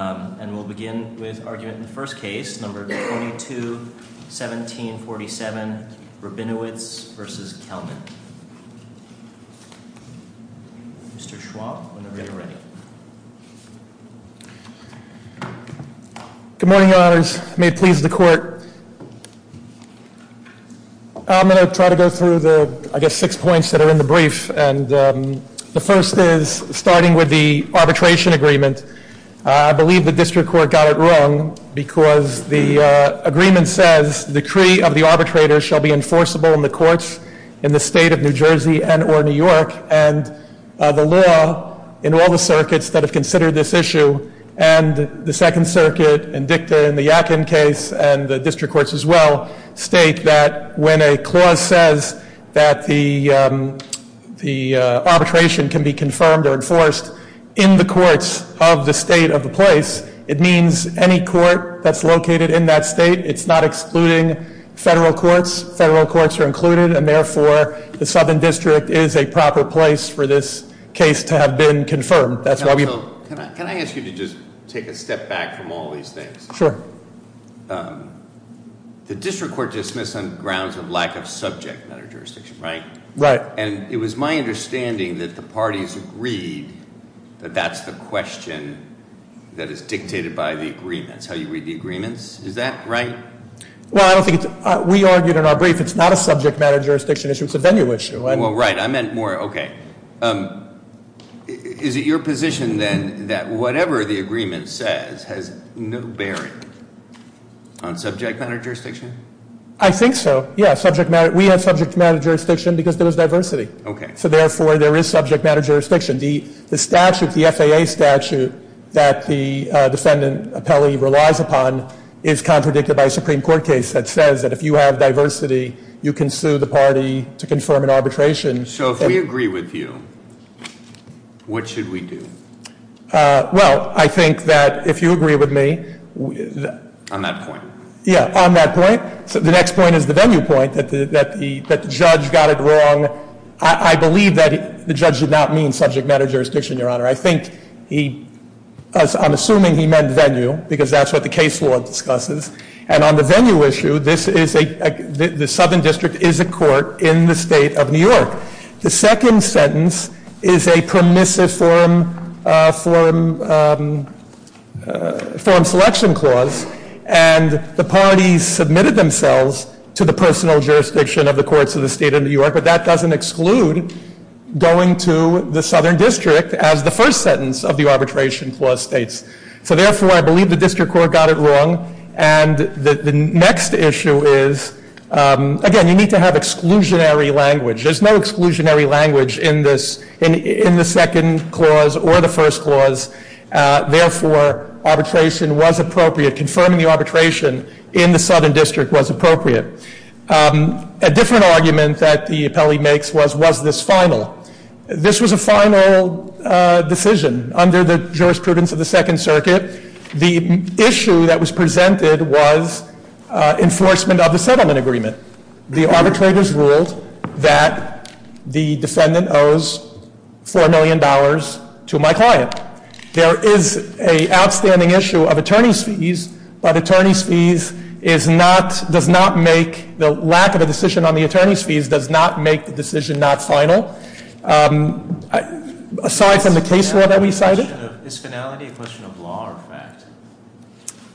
And we'll begin with argument in the first case, number 22-1747, Rabinowitz v. Kelman. Mr. Schwab, whenever you're ready. Good morning, your honors. May it please the court. I'm going to try to go through the, I guess, six points that are in the brief. And the first is starting with the arbitration agreement. I believe the district court got it wrong because the agreement says decree of the arbitrator shall be enforceable in the courts in the State of New Jersey and or New York. And the law in all the circuits that have considered this issue and the Second Circuit and DICTA and the Yackin case and the district courts as well state that when a clause says that the arbitration can be confirmed or enforced in the courts of the state of the place, it means any court that's located in that state, it's not excluding federal courts. Those federal courts are included and therefore the southern district is a proper place for this case to have been confirmed. That's why we- Can I ask you to just take a step back from all these things? Sure. The district court dismissed on grounds of lack of subject matter jurisdiction, right? Right. And it was my understanding that the parties agreed that that's the question that is dictated by the agreements, how you read the agreements. Is that right? Well, I don't think it's, we argued in our brief, it's not a subject matter jurisdiction issue, it's a venue issue. Well, right, I meant more, okay. Is it your position then that whatever the agreement says has no bearing on subject matter jurisdiction? I think so. Yeah, subject matter, we have subject matter jurisdiction because there was diversity. Okay. So therefore, there is subject matter jurisdiction. The statute, the FAA statute that the defendant appellee relies upon is contradicted by a Supreme Court case that says that if you have diversity, you can sue the party to confirm an arbitration. So if we agree with you, what should we do? Well, I think that if you agree with me- On that point. Yeah, on that point. The next point is the venue point, that the judge got it wrong. I believe that the judge did not mean subject matter jurisdiction, Your Honor. I think he, I'm assuming he meant venue, because that's what the case law discusses. And on the venue issue, this is a, the Southern District is a court in the State of New York. The second sentence is a permissive forum, forum, forum selection clause, and the parties submitted themselves to the personal jurisdiction of the courts of the State of New York. But that doesn't exclude going to the Southern District as the first sentence of the arbitration clause states. So therefore, I believe the district court got it wrong. And the next issue is, again, you need to have exclusionary language. There's no exclusionary language in this, in the second clause or the first clause. Therefore, arbitration was appropriate. Confirming the arbitration in the Southern District was appropriate. A different argument that the appellee makes was, was this final? This was a final decision. Under the jurisprudence of the Second Circuit, the issue that was presented was enforcement of the settlement agreement. The arbitrators ruled that the defendant owes $4 million to my client. Now, there is a outstanding issue of attorney's fees. But attorney's fees is not, does not make, the lack of a decision on the attorney's fees does not make the decision not final. Aside from the case law that we cited. Is finality a question of law or fact?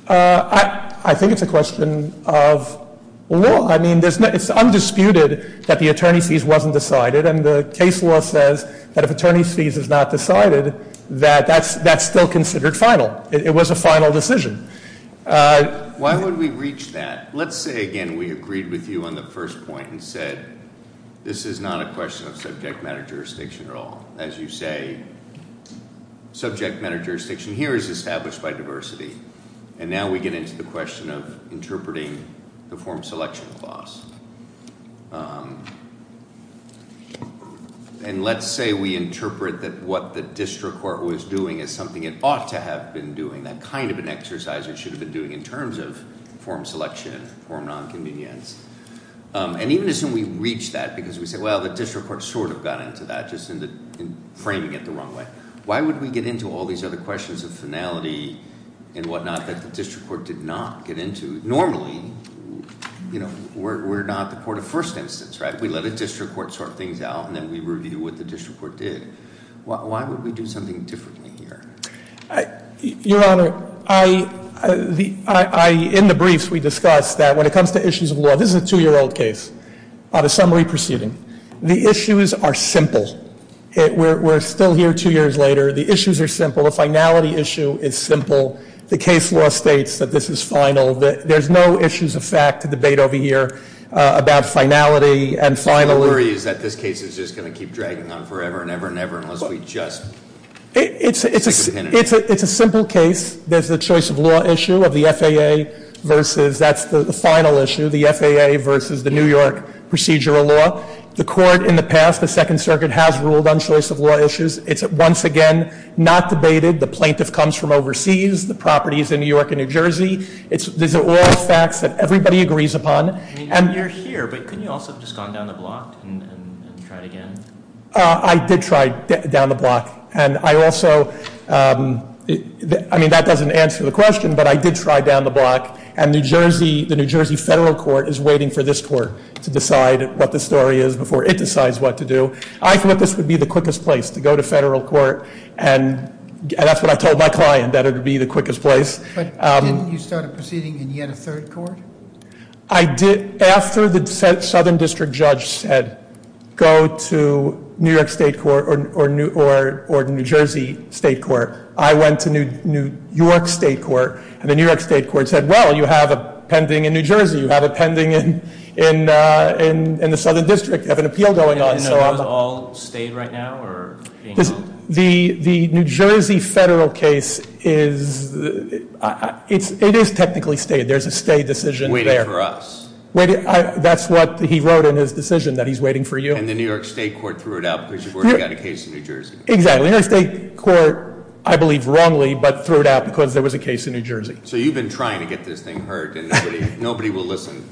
I think it's a question of law. I mean, it's undisputed that the attorney's fees wasn't decided. And the case law says that if attorney's fees is not decided, that that's still considered final. It was a final decision. Why would we reach that? Let's say, again, we agreed with you on the first point and said, this is not a question of subject matter jurisdiction at all. As you say, subject matter jurisdiction here is established by diversity. And now we get into the question of interpreting the form selection clause. And let's say we interpret that what the district court was doing is something it ought to have been doing. That kind of an exercise it should have been doing in terms of form selection, form nonconvenience. And even as soon as we reach that, because we say, well, the district court sort of got into that, just framing it the wrong way. Why would we get into all these other questions of finality and whatnot that the district court did not get into? Normally, we're not the court of first instance, right? We let a district court sort things out, and then we review what the district court did. Why would we do something differently here? Your Honor, in the briefs, we discussed that when it comes to issues of law. This is a two year old case on a summary proceeding. The issues are simple. We're still here two years later. The issues are simple. The finality issue is simple. The case law states that this is final. There's no issues of fact debate over here about finality and finality. The worry is that this case is just going to keep dragging on forever and ever and ever unless we just take a penalty. It's a simple case. There's a choice of law issue of the FAA versus, that's the final issue, the FAA versus the New York procedural law. The court in the past, the Second Circuit, has ruled on choice of law issues. It's, once again, not debated. The plaintiff comes from overseas. The property is in New York and New Jersey. These are all facts that everybody agrees upon. You're here, but couldn't you also have just gone down the block and tried again? I did try down the block. And I also, I mean, that doesn't answer the question, but I did try down the block. And the New Jersey federal court is waiting for this court to decide what the story is before it decides what to do. I thought this would be the quickest place, to go to federal court. And that's what I told my client, that it would be the quickest place. But didn't you start a proceeding and you had a third court? I did. After the Southern District Judge said, go to New York State Court or New Jersey State Court, I went to New York State Court. And the New York State Court said, well, you have a pending in New Jersey. You have a pending in the Southern District. You have an appeal going on. And are those all stayed right now or being held? The New Jersey federal case is, it is technically stayed. There's a stay decision there. Waiting for us. That's what he wrote in his decision, that he's waiting for you. And the New York State Court threw it out because you've already got a case in New Jersey. Exactly. The New York State Court, I believe wrongly, but threw it out because there was a case in New Jersey. So you've been trying to get this thing heard and nobody will listen.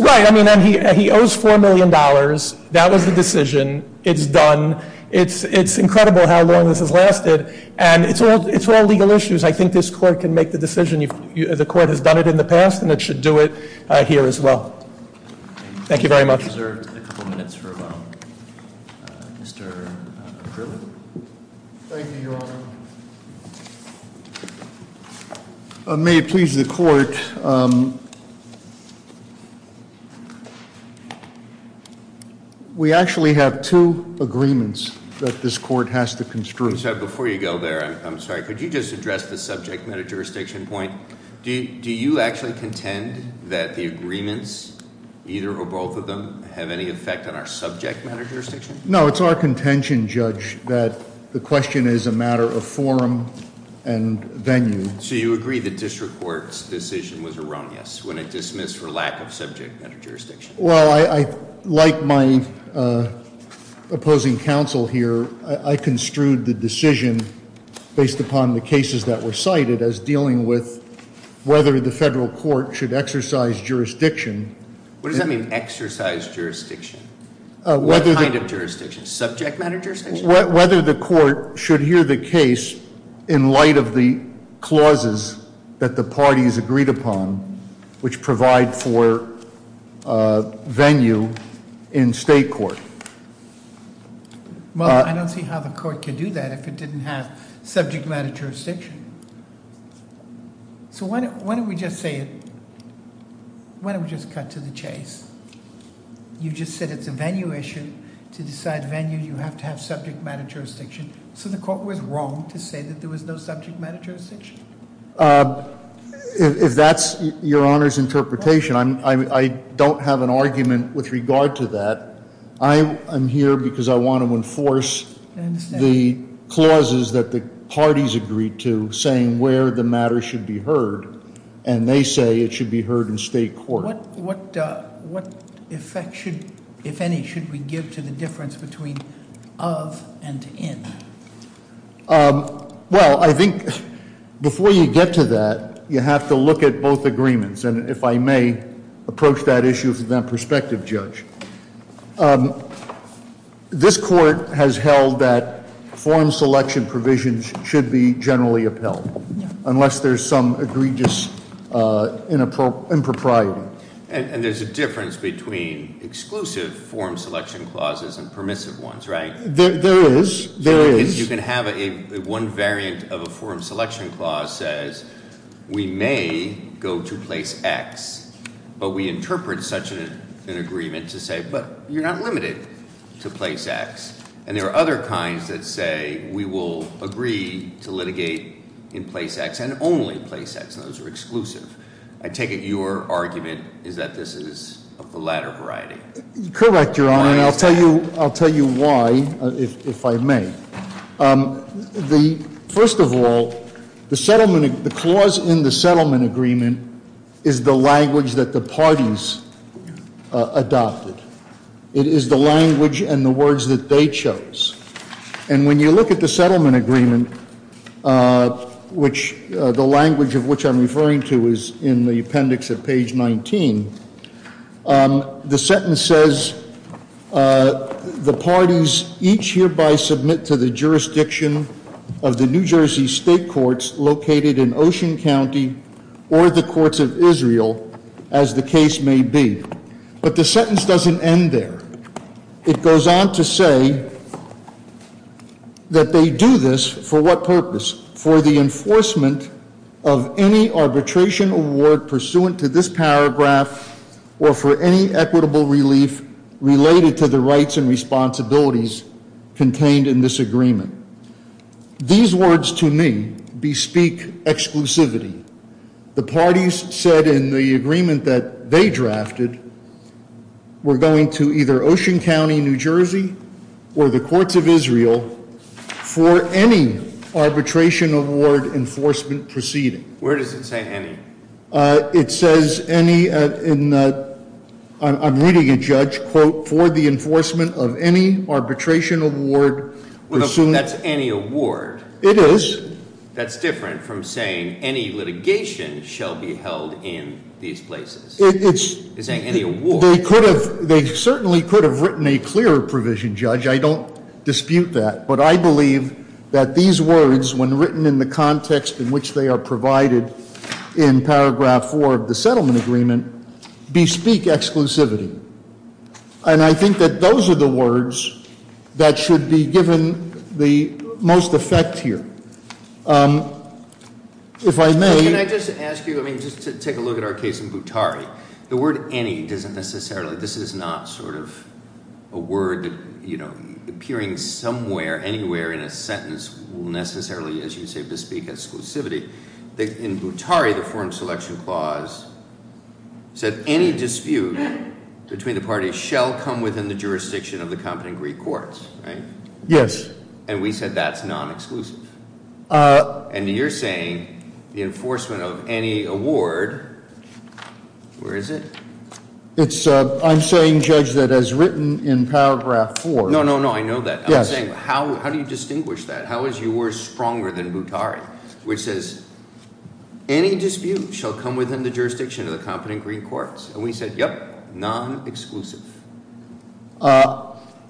Right. I mean, he owes $4 million. That was the decision. It's done. It's incredible how long this has lasted. And it's all legal issues. I think this court can make the decision. The court has done it in the past and it should do it here as well. Thank you very much. I think we deserve a couple minutes for Mr. Krueger. Thank you, Your Honor. May it please the court. We actually have two agreements that this court has to construe. Sir, before you go there, I'm sorry. Could you just address the subject matter jurisdiction point? Do you actually contend that the agreements, either or both of them, have any effect on our subject matter jurisdiction? No, it's our contention, Judge, that the question is a matter of forum and venue. So you agree the district court's decision was erroneous when it dismissed for lack of subject matter jurisdiction? Well, like my opposing counsel here, I construed the decision based upon the cases that were cited as dealing with whether the federal court should exercise jurisdiction. What does that mean, exercise jurisdiction? What kind of jurisdiction? Subject matter jurisdiction? Whether the court should hear the case in light of the clauses that the parties agreed upon which provide for venue in state court. Well, I don't see how the court can do that if it didn't have subject matter jurisdiction. So why don't we just say it, why don't we just cut to the chase? You just said it's a venue issue. To decide venue, you have to have subject matter jurisdiction. So the court was wrong to say that there was no subject matter jurisdiction? If that's your Honor's interpretation, I don't have an argument with regard to that. I'm here because I want to enforce the clauses that the parties agreed to, saying where the matter should be heard, and they say it should be heard in state court. What effect, if any, should we give to the difference between of and in? Well, I think before you get to that, you have to look at both agreements. And if I may approach that issue from that perspective, Judge. This court has held that form selection provisions should be generally upheld. Unless there's some egregious impropriety. And there's a difference between exclusive form selection clauses and permissive ones, right? There is, there is. You can have one variant of a form selection clause says, we may go to place X. But we interpret such an agreement to say, but you're not limited to place X. And there are other kinds that say, we will agree to litigate in place X, and only in place X. And those are exclusive. I take it your argument is that this is of the latter variety. Correct, Your Honor. And I'll tell you why, if I may. First of all, the clause in the settlement agreement is the language that the parties adopted. It is the language and the words that they chose. And when you look at the settlement agreement, which the language of which I'm referring to is in the appendix of page 19. The sentence says, the parties each hereby submit to the jurisdiction of the New Jersey State Courts located in Ocean County or the courts of Israel, as the case may be. But the sentence doesn't end there. It goes on to say that they do this for what purpose? For the enforcement of any arbitration award pursuant to this paragraph or for any equitable relief related to the rights and responsibilities contained in this agreement. These words to me bespeak exclusivity. The parties said in the agreement that they drafted, we're going to either Ocean County, New Jersey, or the courts of Israel for any arbitration award enforcement proceeding. Where does it say any? It says any, I'm reading a judge, quote, for the enforcement of any arbitration award. Well, that's any award. It is. That's different from saying any litigation shall be held in these places. It's- It's saying any award. They certainly could have written a clearer provision, Judge. I don't dispute that. But I believe that these words, when written in the context in which they are provided in paragraph four of the settlement agreement, bespeak exclusivity. And I think that those are the words that should be given the most effect here. If I may- Can I just ask you, I mean, just to take a look at our case in Butary. The word any doesn't necessarily, this is not sort of a word, you know, appearing somewhere, anywhere in a sentence will necessarily, as you say, bespeak exclusivity. In Butary, the Foreign Selection Clause said any dispute between the parties shall come within the jurisdiction of the competent Greek courts, right? Yes. And we said that's non-exclusive. And you're saying the enforcement of any award, where is it? It's, I'm saying, Judge, that as written in paragraph four- No, no, no, I know that. Yes. How do you distinguish that? How is your word stronger than Butary, which says any dispute shall come within the jurisdiction of the competent Greek courts? And we said, yep, non-exclusive.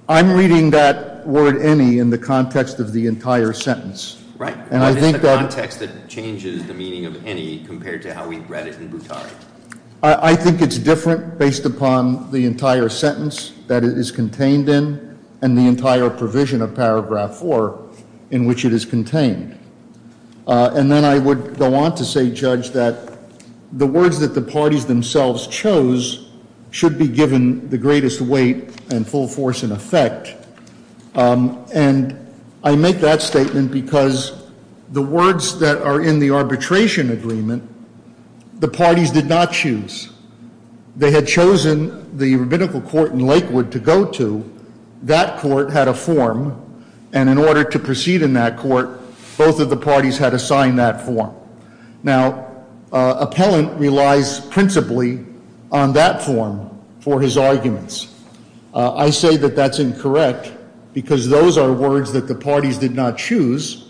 I'm reading that word any in the context of the entire sentence. Right. And I think that- What is the context that changes the meaning of any compared to how we read it in Butary? I think it's different based upon the entire sentence that it is contained in and the entire provision of paragraph four in which it is contained. And then I would go on to say, Judge, that the words that the parties themselves chose should be given the greatest weight and full force in effect. And I make that statement because the words that are in the arbitration agreement, the parties did not choose. They had chosen the rabbinical court in Lakewood to go to. That court had a form. And in order to proceed in that court, both of the parties had assigned that form. Now, appellant relies principally on that form for his arguments. I say that that's incorrect because those are words that the parties did not choose.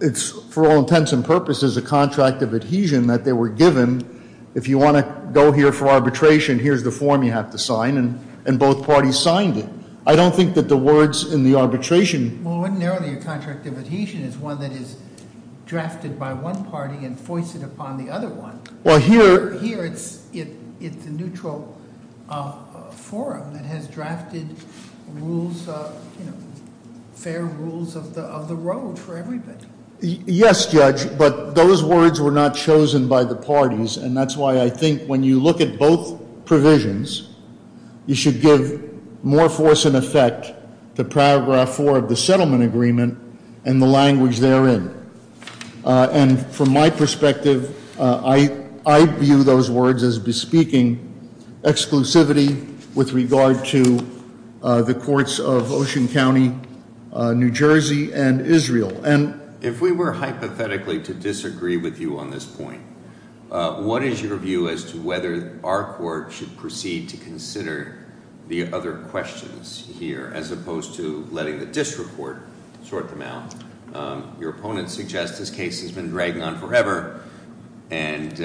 It's, for all intents and purposes, a contract of adhesion that they were given. If you want to go here for arbitration, here's the form you have to sign. And both parties signed it. I don't think that the words in the arbitration- Well, ordinarily, a contract of adhesion is one that is drafted by one party and foisted upon the other one. Well, here- Here, it's a neutral forum that has drafted rules, you know, fair rules of the road for everybody. Yes, Judge, but those words were not chosen by the parties. And that's why I think when you look at both provisions, you should give more force and effect to Paragraph 4 of the settlement agreement and the language therein. And from my perspective, I view those words as bespeaking exclusivity with regard to the courts of Ocean County, New Jersey, and Israel. And- If we were hypothetically to disagree with you on this point, what is your view as to whether our court should proceed to consider the other questions here, as opposed to letting the disreport sort them out? Your opponent suggests this case has been dragging on forever, and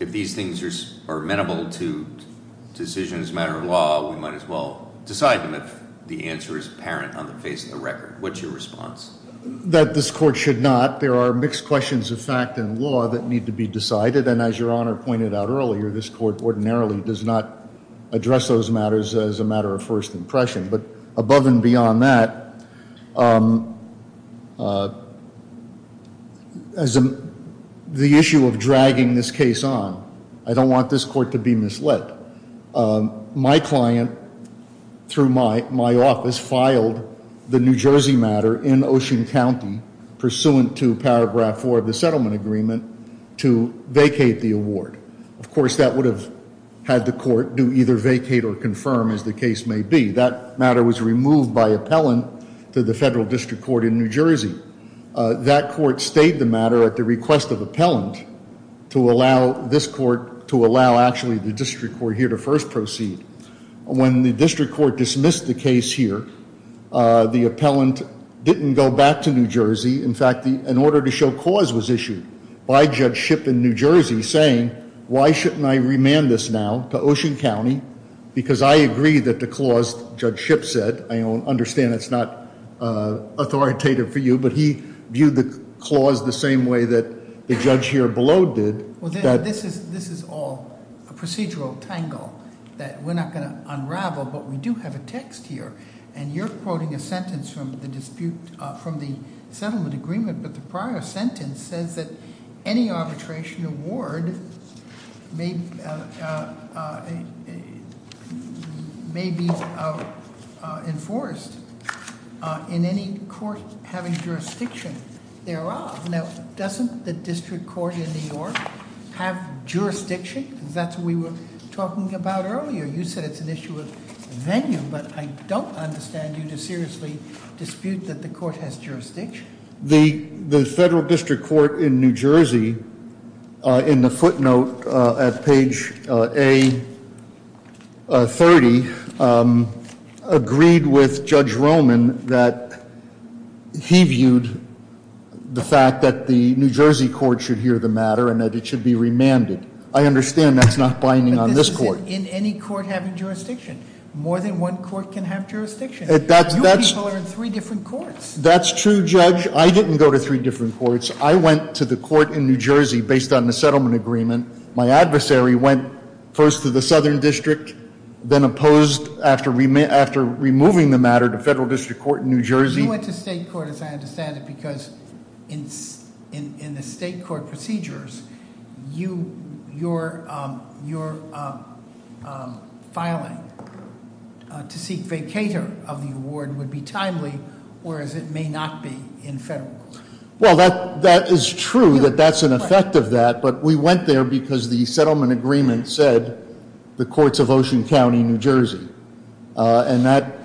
if these things are amenable to decision as a matter of law, we might as well decide them if the answer is apparent on the face of the record. What's your response? That this court should not. There are mixed questions of fact and law that need to be decided. And as Your Honor pointed out earlier, this court ordinarily does not address those matters as a matter of first impression. But above and beyond that, as the issue of dragging this case on, I don't want this court to be misled. My client, through my office, filed the New Jersey matter in Ocean County, pursuant to Paragraph 4 of the settlement agreement, to vacate the award. Of course, that would have had the court do either vacate or confirm, as the case may be. That matter was removed by appellant to the federal district court in New Jersey. That court stayed the matter at the request of appellant to allow this court to allow actually the district court here to first proceed. When the district court dismissed the case here, the appellant didn't go back to New Jersey. In fact, an order to show cause was issued by Judge Shipp in New Jersey, saying, why shouldn't I remand this now to Ocean County, because I agree that the clause Judge Shipp said, I understand it's not authoritative for you, but he viewed the clause the same way that the judge here below did. This is all a procedural tangle that we're not going to unravel, but we do have a text here. And you're quoting a sentence from the settlement agreement, but the prior sentence says that any arbitration award may be enforced in any court having jurisdiction thereof. Now, doesn't the district court in New York have jurisdiction? That's what we were talking about earlier. You said it's an issue of venue, but I don't understand you to seriously dispute that the court has jurisdiction. The federal district court in New Jersey, in the footnote at page A30, agreed with Judge Roman that he viewed the fact that the New Jersey court should hear the matter and that it should be remanded. I understand that's not binding on this court. In any court having jurisdiction, more than one court can have jurisdiction. You people are in three different courts. That's true, Judge. I didn't go to three different courts. I went to the court in New Jersey based on the settlement agreement. My adversary went first to the southern district, then opposed after removing the matter to federal district court in New Jersey. You went to state court, as I understand it, because in the state court procedures, your filing to seek vacater of the award would be timely, whereas it may not be in federal court. Well, that is true, that that's an effect of that, but we went there because the settlement agreement said the courts of Ocean County, New Jersey. And that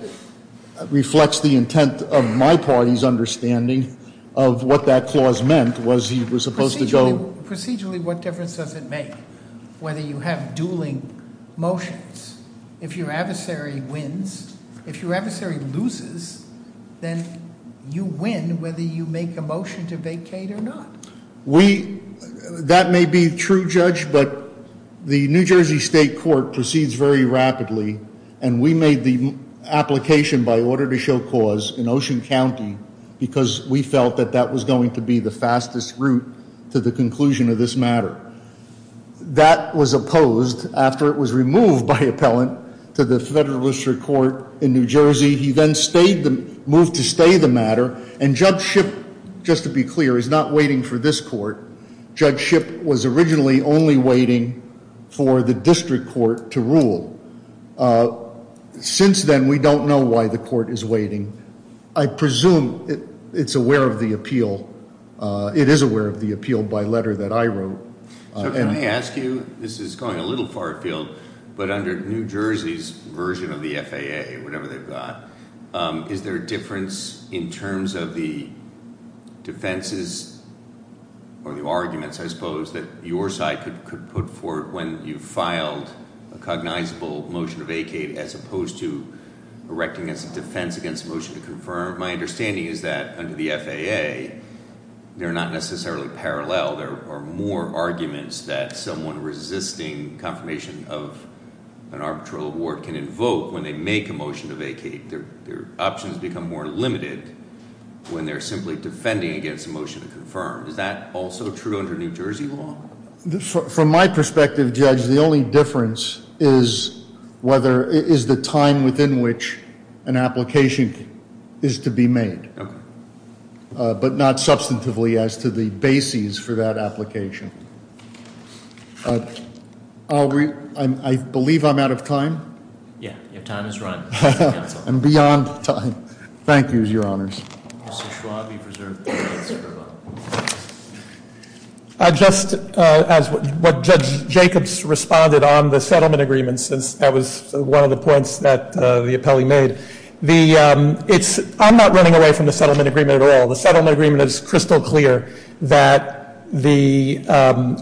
reflects the intent of my party's understanding of what that clause meant, was he was supposed to go- Procedurally, what difference does it make whether you have dueling motions? If your adversary wins, if your adversary loses, then you win whether you make a motion to vacate or not. That may be true, Judge, but the New Jersey State Court proceeds very rapidly, and we made the application by order to show cause in Ocean County, because we felt that that was going to be the fastest route to the conclusion of this matter. That was opposed after it was removed by appellant to the federal district court in New Jersey. He then moved to stay the matter, and Judge Shipp, just to be clear, is not waiting for this court. Judge Shipp was originally only waiting for the district court to rule. Since then, we don't know why the court is waiting. I presume it's aware of the appeal. It is aware of the appeal by letter that I wrote. So can I ask you, this is going a little far field, but under New Jersey's version of the FAA, whatever they've got, is there a difference in terms of the defenses or the arguments, I suppose, that your side could put forth when you filed a cognizable motion to vacate, as opposed to erecting as a defense against a motion to confirm? My understanding is that under the FAA, they're not necessarily parallel. There are more arguments that someone resisting confirmation of an arbitral award can invoke when they make a motion to vacate. Their options become more limited when they're simply defending against a motion to confirm. Is that also true under New Jersey law? From my perspective, Judge, the only difference is whether, is the time within which an application is to be made. Okay. But not substantively as to the bases for that application. I believe I'm out of time. Yeah, your time is run. And beyond time. Thank you, your honors. Mr. Schwab, you preserved the rights of the vote. I just, as what Judge Jacobs responded on the settlement agreement, since that was one of the points that the appellee made, I'm not running away from the settlement agreement at all. The settlement agreement is crystal clear that the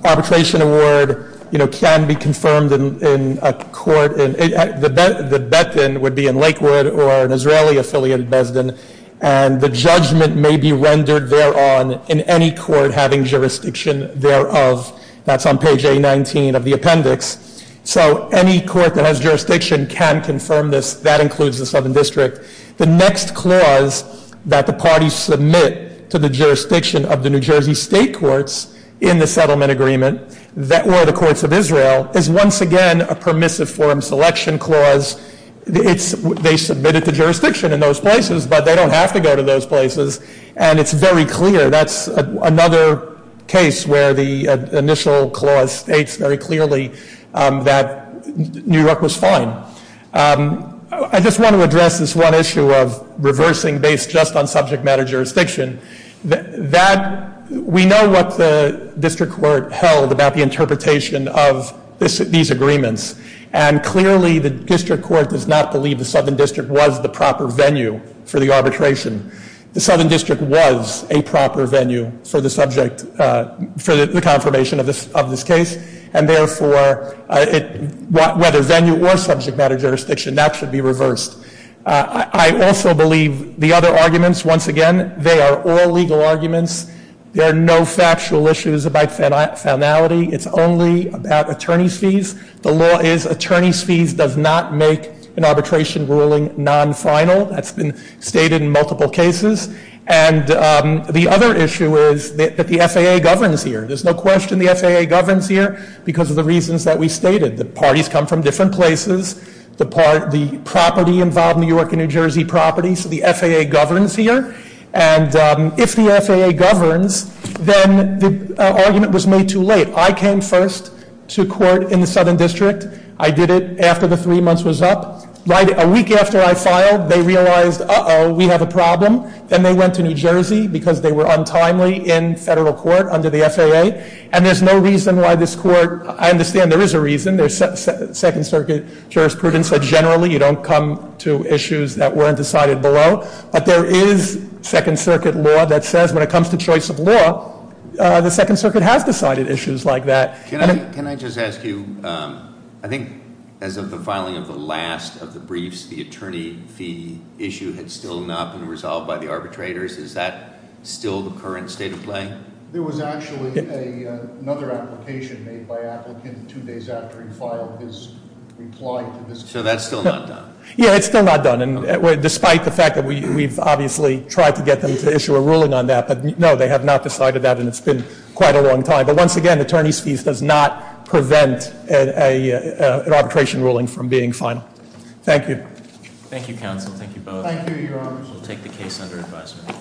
arbitration award can be confirmed in a court. The bet then would be in Lakewood or an Israeli affiliated Besden. And the judgment may be rendered thereon in any court having jurisdiction thereof. That's on page A19 of the appendix. So any court that has jurisdiction can confirm this, that includes the Southern District. The next clause that the parties submit to the jurisdiction of the New Jersey state courts in the settlement agreement, or the courts of Israel, is once again a permissive forum selection clause. They submitted to jurisdiction in those places, but they don't have to go to those places. And it's very clear, that's another case where the initial clause states very clearly that New York was fine. I just want to address this one issue of reversing based just on subject matter jurisdiction. We know what the district court held about the interpretation of these agreements. And clearly the district court does not believe the Southern District was the proper venue for the arbitration. The Southern District was a proper venue for the subject, for the confirmation of this case. And therefore, whether venue or subject matter jurisdiction, that should be reversed. I also believe the other arguments, once again, they are all legal arguments. There are no factual issues about finality. It's only about attorney's fees. The law is attorney's fees does not make an arbitration ruling non-final. That's been stated in multiple cases. And the other issue is that the FAA governs here. There's no question the FAA governs here because of the reasons that we stated. The parties come from different places. The property involved, New York and New Jersey property, so the FAA governs here. And if the FAA governs, then the argument was made too late. I came first to court in the Southern District. I did it after the three months was up. Right a week after I filed, they realized, uh-oh, we have a problem. Then they went to New Jersey because they were untimely in federal court under the FAA. And there's no reason why this court, I understand there is a reason. There's second circuit jurisprudence, so generally you don't come to issues that weren't decided below. But there is second circuit law that says when it comes to choice of law, the second circuit has decided issues like that. Can I just ask you, I think as of the filing of the last of the briefs, the attorney fee issue had still not been resolved by the arbitrators. Is that still the current state of play? There was actually another application made by applicant two days after he filed his reply to this case. So that's still not done? Yeah, it's still not done, despite the fact that we've obviously tried to get them to issue a ruling on that. But no, they have not decided that and it's been quite a long time. But once again, attorney's fees does not prevent an arbitration ruling from being final. Thank you. Thank you, counsel. Thank you both. Thank you, your honors. We'll take the case under advisement.